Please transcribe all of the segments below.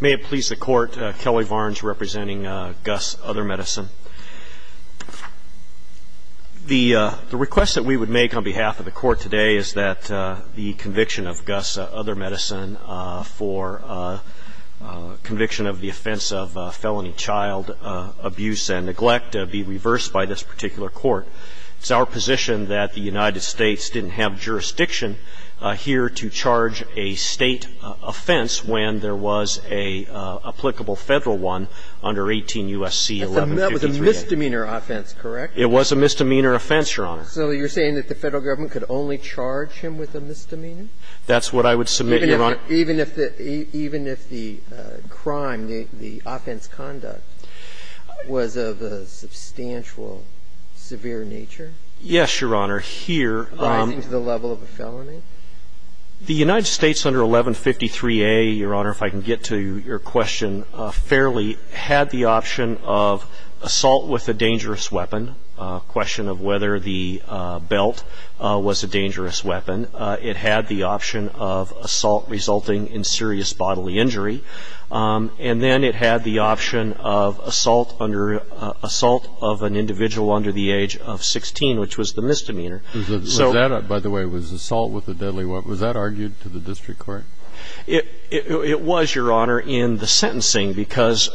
May it please the court, Kelly Varnes representing Gus Other Medicine. The request that we would make on behalf of the court today is that the conviction of Gus Other Medicine for conviction of the offense of felony child abuse and neglect be reversed by this particular court. It's our position that the United States didn't have jurisdiction here to charge a State offense when there was an applicable Federal one under 18 U.S.C. 1153a. That was a misdemeanor offense, correct? It was a misdemeanor offense, Your Honor. So you're saying that the Federal Government could only charge him with a misdemeanor? That's what I would submit, Your Honor. Even if the crime, the offense conduct, was of a substantial severe nature? Yes, Your Honor. Here. Rising to the level of a felony? The United States under 1153a, Your Honor, if I can get to your question fairly, had the option of assault with a dangerous weapon. A question of whether the belt was a dangerous weapon. It had the option of assault resulting in serious bodily injury. And then it had the option of assault of an individual under the age of 16, which was the misdemeanor. Was that, by the way, was assault with a deadly weapon, was that argued to the district court? It was, Your Honor, in the sentencing. Because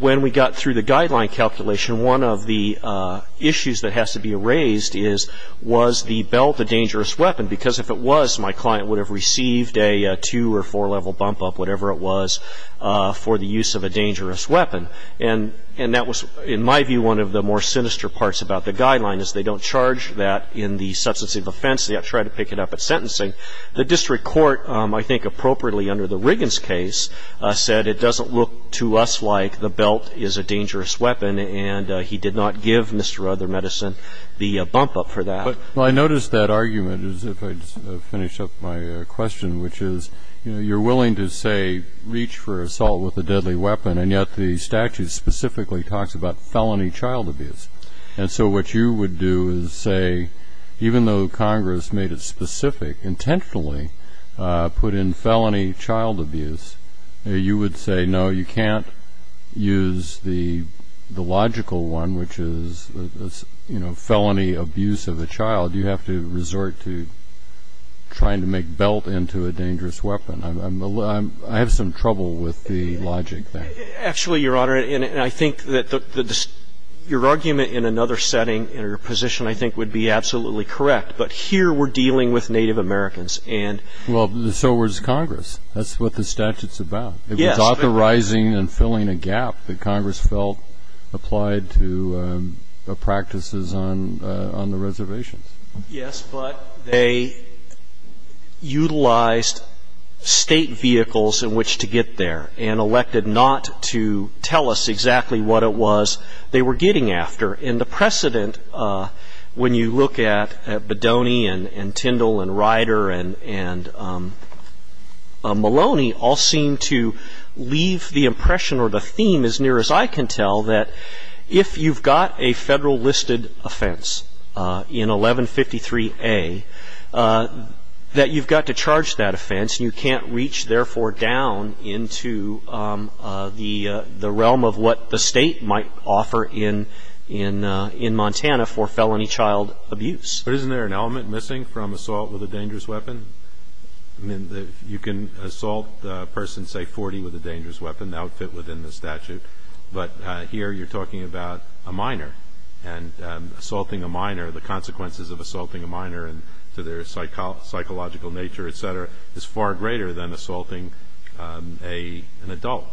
when we got through the guideline calculation, one of the issues that has to be raised is, was the belt a dangerous weapon? Because if it was, my client would have received a two- or four-level bump-up, whatever it was, for the use of a dangerous weapon. And that was, in my view, one of the more sinister parts about the guideline, is they don't charge that in the substance of offense. They try to pick it up at sentencing. The district court, I think appropriately under the Riggins case, said it doesn't look to us like the belt is a dangerous weapon, and he did not give Mr. Ruther, Medicine, the bump-up for that. Well, I noticed that argument, as if I'd finished up my question, which is, you know, you're willing to, say, reach for assault with a deadly weapon, and yet the statute specifically talks about felony child abuse. And so what you would do is say, even though Congress made it specific, intentionally, put in felony child abuse, you would say, no, you can't use the logical one, which is, you know, felony abuse of a child. You have to resort to trying to make belt into a dangerous weapon. I have some trouble with the logic there. Actually, Your Honor, and I think that your argument in another setting, in your position, I think would be absolutely correct. But here we're dealing with Native Americans. Well, so was Congress. That's what the statute's about. It was authorizing and filling a gap that Congress felt applied to practices on the reservations. Yes, but they utilized State vehicles in which to get there and elected not to tell us exactly what it was they were getting after. And the precedent, when you look at Bodoni and Tyndall and Ryder and Maloney, all seem to leave the impression or the theme, as near as I can tell, that if you've got a Federal-listed offense in 1153A, that you've got to charge that offense and you can't reach, therefore, down into the realm of what the State might offer in Montana for felony child abuse. But isn't there an element missing from assault with a dangerous weapon? I mean, you can assault a person, say, 40, with a dangerous weapon. That would fit within the statute. But here you're talking about a minor. And assaulting a minor, the consequences of assaulting a minor and to their psychological nature, et cetera, is far greater than assaulting an adult.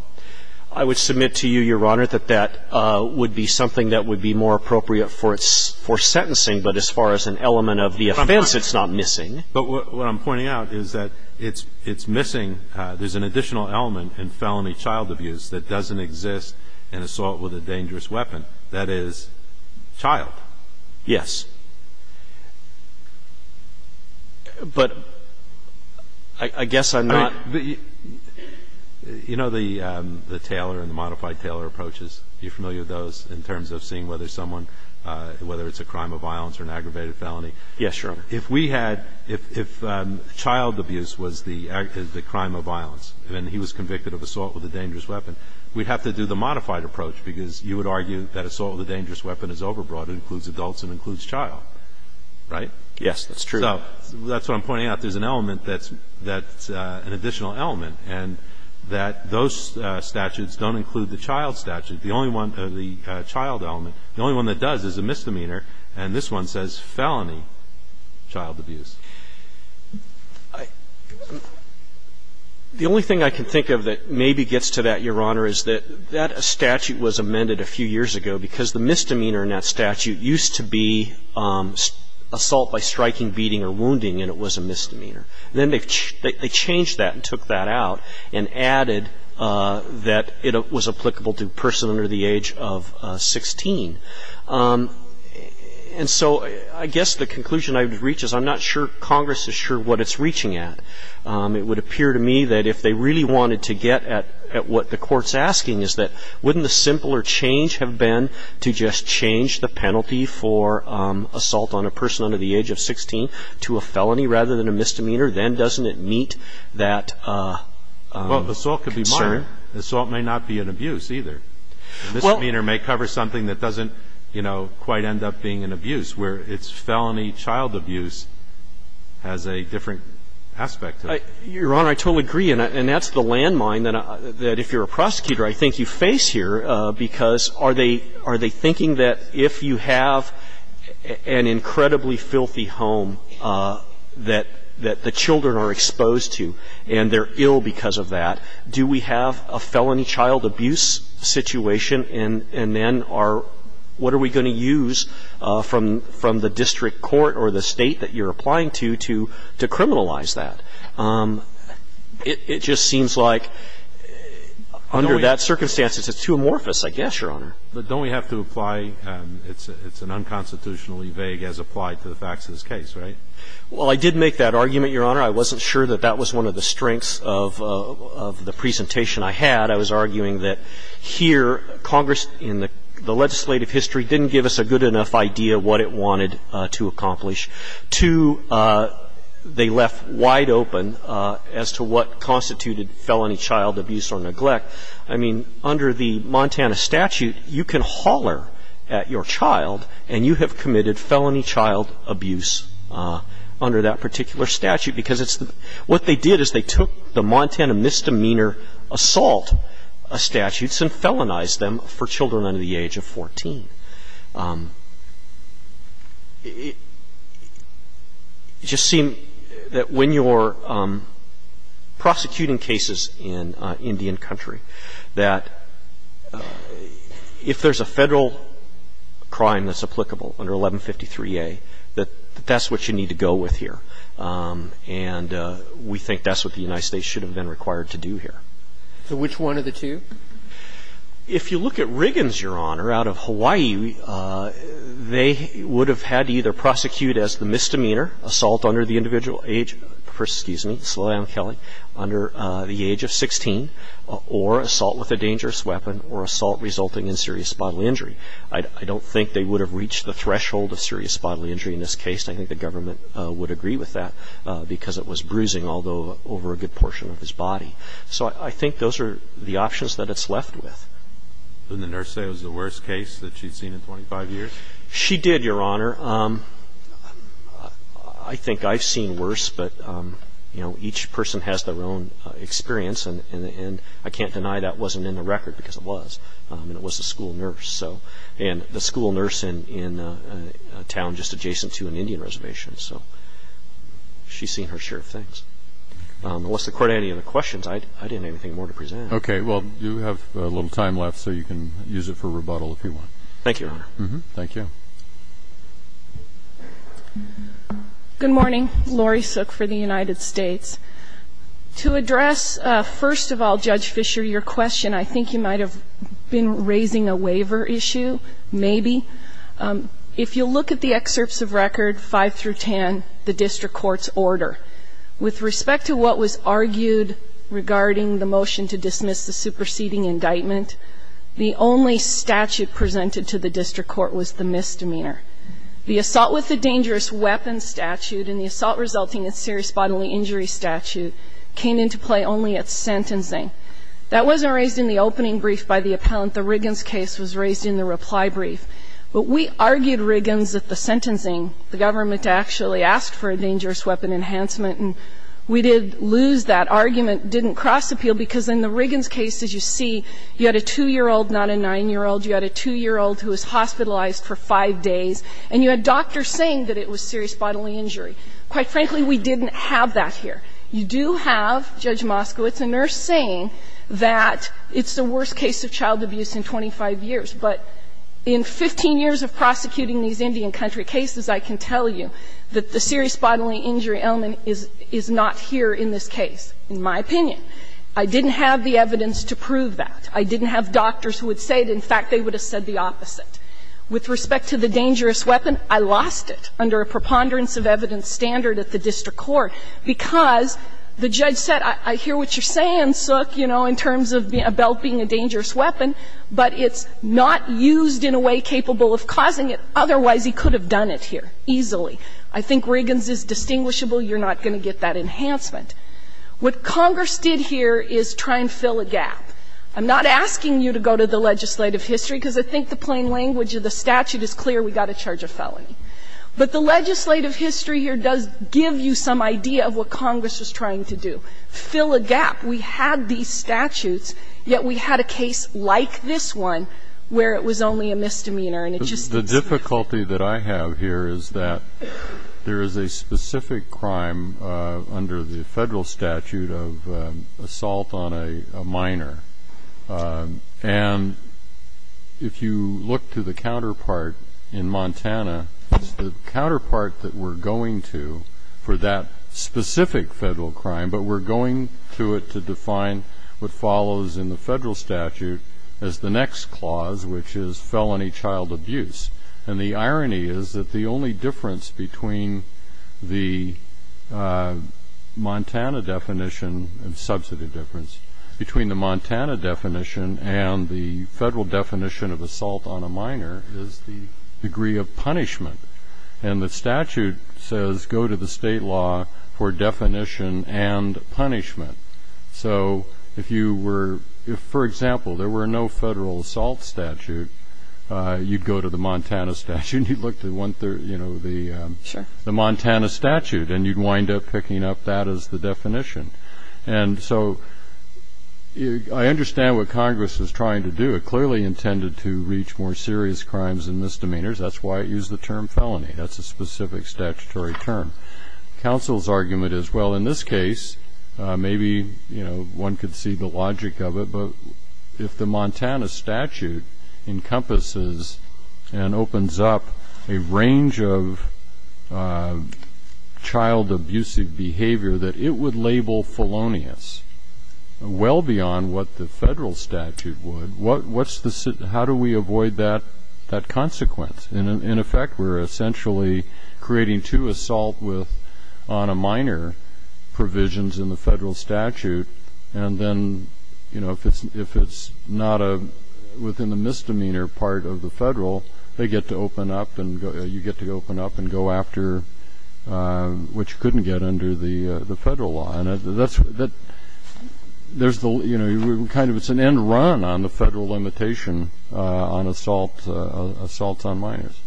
I would submit to you, Your Honor, that that would be something that would be more appropriate for sentencing, but as far as an element of the offense, it's not missing. But what I'm pointing out is that it's missing. There's an additional element in felony child abuse that doesn't exist in assault with a dangerous weapon. That is, child. Yes. But I guess I'm not ---- I mean, you know the Taylor and the modified Taylor approaches. You're familiar with those in terms of seeing whether someone, whether it's a crime of violence or an aggravated felony. Yes, Your Honor. If we had, if child abuse was the crime of violence and he was convicted of assault with a dangerous weapon, we'd have to do the modified approach because you would Right? Yes, that's true. So that's what I'm pointing out. There's an element that's an additional element, and that those statutes don't include the child statute. The only one, the child element, the only one that does is a misdemeanor, and this one says felony child abuse. The only thing I can think of that maybe gets to that, Your Honor, is that that statute was amended a few years ago because the misdemeanor in that statute used to be assault by striking, beating, or wounding, and it was a misdemeanor. Then they changed that and took that out and added that it was applicable to a person under the age of 16. And so I guess the conclusion I would reach is I'm not sure Congress is sure what it's reaching at. It would appear to me that if they really wanted to get at what the Court's asking is that wouldn't the simpler change have been to just change the penalty for assault on a person under the age of 16 to a felony rather than a misdemeanor? Then doesn't it meet that concern? Well, assault could be minor. Assault may not be an abuse either. A misdemeanor may cover something that doesn't, you know, quite end up being an abuse, where it's felony child abuse has a different aspect to it. Your Honor, I totally agree, and that's the landmine that if you're a prosecutor, I think you face here, because are they thinking that if you have an incredibly filthy home that the children are exposed to and they're ill because of that, do we have a felony child abuse situation? And then are what are we going to use from the district court or the State that you're applying to to criminalize that? It just seems like under that circumstance, it's too amorphous, I guess, Your Honor. But don't we have to apply it's an unconstitutionally vague as applied to the facts of this case, right? Well, I did make that argument, Your Honor. I wasn't sure that that was one of the strengths of the presentation I had. I was arguing that here Congress in the legislative history didn't give us a good enough idea what it wanted to accomplish. Two, they left wide open as to what constituted felony child abuse or neglect. I mean, under the Montana statute, you can holler at your child and you have committed felony child abuse under that particular statute, because what they did is they took the Montana misdemeanor assault statutes and felonized them for children under the age of 14. It just seemed that when you're prosecuting cases in Indian country, that if there's a Federal crime that's applicable under 1153a, that that's what you need to go with here. And we think that's what the United States should have been required to do here. So which one of the two? If you look at Riggins, Your Honor, out of Hawaii, they would have had to either prosecute as the misdemeanor, assault under the individual age, excuse me, under the age of 16, or assault with a dangerous weapon or assault resulting in serious bodily injury. I don't think they would have reached the threshold of serious bodily injury in this case. I think the government would agree with that because it was bruising, although over a good portion of his body. So I think those are the options that it's left with. Didn't the nurse say it was the worst case that she'd seen in 25 years? She did, Your Honor. I think I've seen worse, but, you know, each person has their own experience, and I can't deny that wasn't in the record because it was. And it was a school nurse, so. And the school nurse in a town just adjacent to an Indian reservation. So she's seen her share of things. Unless the Court had any other questions, I didn't have anything more to present. Okay. Well, you have a little time left, so you can use it for rebuttal if you want. Thank you, Your Honor. Thank you. Good morning. Laurie Sook for the United States. To address, first of all, Judge Fisher, your question, I think you might have been raising a waiver issue, maybe. If you look at the excerpts of record 5 through 10, the district court's order, with respect to what was argued regarding the motion to dismiss the superseding indictment, the only statute presented to the district court was the misdemeanor. The assault with a dangerous weapon statute and the assault resulting in serious bodily injury statute came into play only at sentencing. That wasn't raised in the opening brief by the appellant. The Riggins case was raised in the reply brief. But we argued, Riggins, that the sentencing, the government actually asked for a dangerous weapon enhancement. And we did lose that argument, didn't cross appeal, because in the Riggins case, as you see, you had a 2-year-old, not a 9-year-old. You had a 2-year-old who was hospitalized for five days. And you had doctors saying that it was serious bodily injury. Quite frankly, we didn't have that here. You do have, Judge Moskowitz, a nurse saying that it's the worst case of child abuse in 25 years, but in 15 years of prosecuting these Indian country cases, I can tell you that the serious bodily injury element is not here in this case, in my opinion. I didn't have the evidence to prove that. I didn't have doctors who would say it. In fact, they would have said the opposite. With respect to the dangerous weapon, I lost it under a preponderance of evidence standard at the district court because the judge said, I hear what you're But it's not used in a way capable of causing it. Otherwise, he could have done it here easily. I think Riggins is distinguishable. You're not going to get that enhancement. What Congress did here is try and fill a gap. I'm not asking you to go to the legislative history, because I think the plain language of the statute is clear. We've got to charge a felony. But the legislative history here does give you some idea of what Congress was trying to do, fill a gap. We had these statutes, yet we had a case like this one where it was only a misdemeanor. The difficulty that I have here is that there is a specific crime under the federal statute of assault on a minor. And if you look to the counterpart in Montana, it's the counterpart that we're But we're going through it to define what follows in the federal statute as the next clause, which is felony child abuse. And the irony is that the only difference between the Montana definition and subsidy difference, between the Montana definition and the federal definition of assault on a minor, is the degree of punishment. And the statute says go to the state law for definition and punishment. So if, for example, there were no federal assault statute, you'd go to the Montana statute, and you'd look to the Montana statute, and you'd wind up picking up that as the definition. And so I understand what Congress was trying to do. It clearly intended to reach more serious crimes and misdemeanors. That's why it used the term felony. That's a specific statutory term. Counsel's argument is, well, in this case, maybe one could see the logic of it. But if the Montana statute encompasses and opens up a range of child abusive behavior that it would label felonious, well beyond what the federal statute would, how do we avoid that consequence? And, in effect, we're essentially creating two assault with on a minor provisions in the federal statute. And then, you know, if it's not within the misdemeanor part of the federal, they get to open up and you get to open up and go after what you couldn't get under the federal law. And that's the, you know, kind of it's an end run on the federal limitation on assault on minors.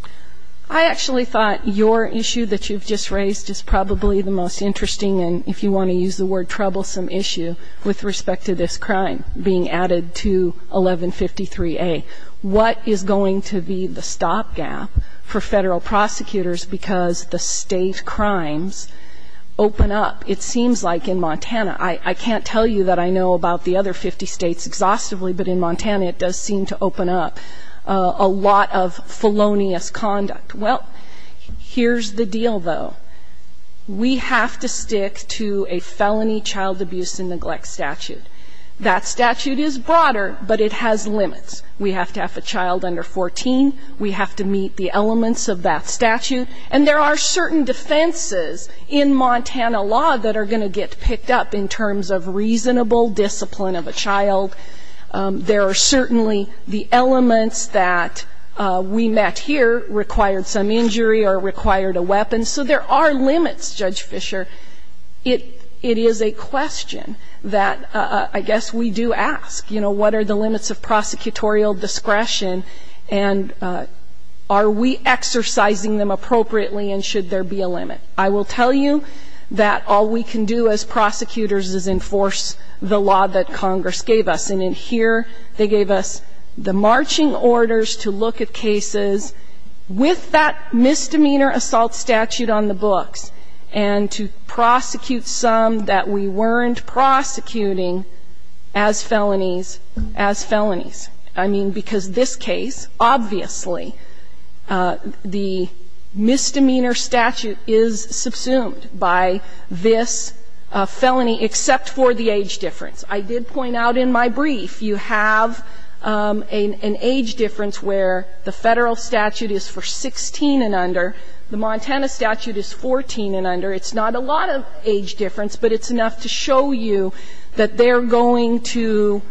I actually thought your issue that you've just raised is probably the most interesting and, if you want to use the word, troublesome issue with respect to this crime being added to 1153A. What is going to be the stopgap for federal prosecutors because the state crimes open up? It seems like in Montana, I can't tell you that I know about the other 50 states exhaustively, but in Montana, it does seem to open up a lot of felonious conduct. Well, here's the deal, though. We have to stick to a felony child abuse and neglect statute. That statute is broader, but it has limits. We have to have a child under 14. We have to meet the elements of that statute. And there are certain defenses in Montana law that are going to get picked up in terms of reasonable discipline of a child. There are certainly the elements that we met here required some injury or required a weapon. So there are limits, Judge Fischer. It is a question that I guess we do ask, you know, what are the limits of prosecutorial discretion, and are we exercising them appropriately, and should there be a limit? I will tell you that all we can do as prosecutors is enforce the law that Congress gave us. And in here, they gave us the marching orders to look at cases with that misdemeanor assault statute on the books and to prosecute some that we weren't prosecuting as felonies as felonies. I mean, because this case, obviously, the misdemeanor statute is subsumed by this felony, except for the age difference. I did point out in my brief, you have an age difference where the Federal statute is for 16 and under. The Montana statute is 14 and under. It's not a lot of age difference, but it's enough to show you that they're going to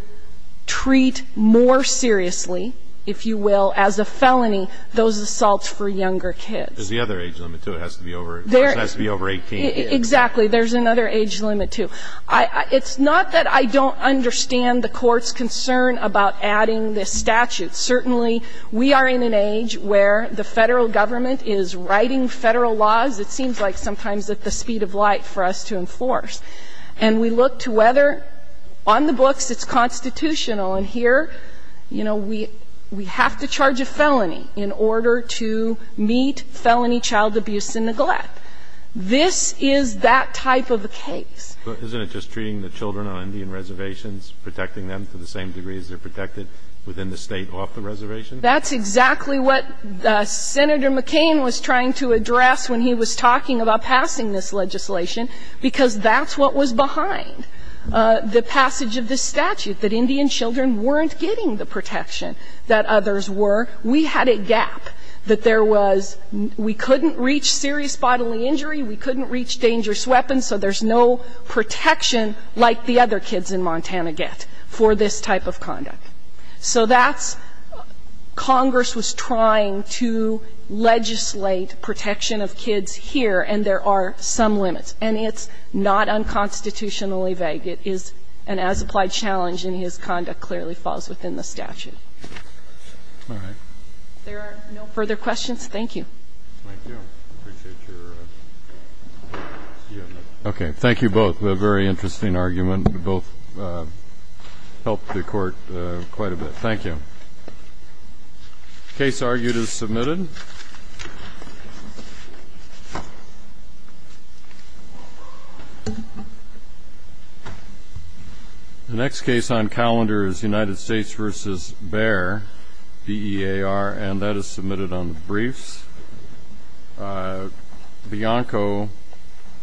treat more seriously, if you will, as a felony, those assaults for younger kids. There's the other age limit, too. It has to be over 18. Exactly. There's another age limit, too. It's not that I don't understand the Court's concern about adding this statute. Certainly, we are in an age where the Federal government is writing Federal laws, it seems like, sometimes at the speed of light for us to enforce. And we look to whether, on the books, it's constitutional, and here, you know, we have to charge a felony in order to meet felony child abuse and neglect. This is that type of a case. But isn't it just treating the children on Indian reservations, protecting them to the same degree as they're protected within the State off the reservation? That's exactly what Senator McCain was trying to address when he was talking about that's what was behind the passage of this statute, that Indian children weren't getting the protection that others were. We had a gap, that there was we couldn't reach serious bodily injury, we couldn't reach dangerous weapons, so there's no protection like the other kids in Montana get for this type of conduct. So that's Congress was trying to legislate protection of kids here, and there are some limits. And it's not unconstitutionally vague. It is an as-applied challenge, and his conduct clearly falls within the statute. If there are no further questions, thank you. Thank you. I appreciate your comment. Okay. Thank you both. A very interesting argument. Both helped the Court quite a bit. Thank you. Case argued as submitted. The next case on calendar is United States v. Bayer, B-E-A-R, and that is submitted on the briefs. Bianco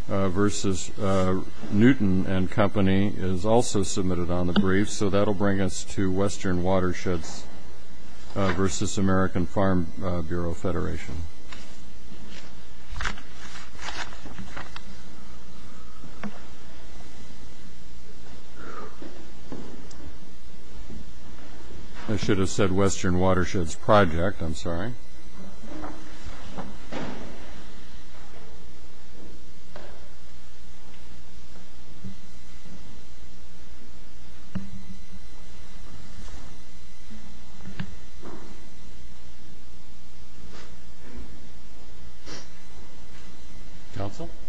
v. Newton and Company is also submitted on the briefs, so that will bring us to I should have said Western Watersheds Project, I'm sorry. Counsel?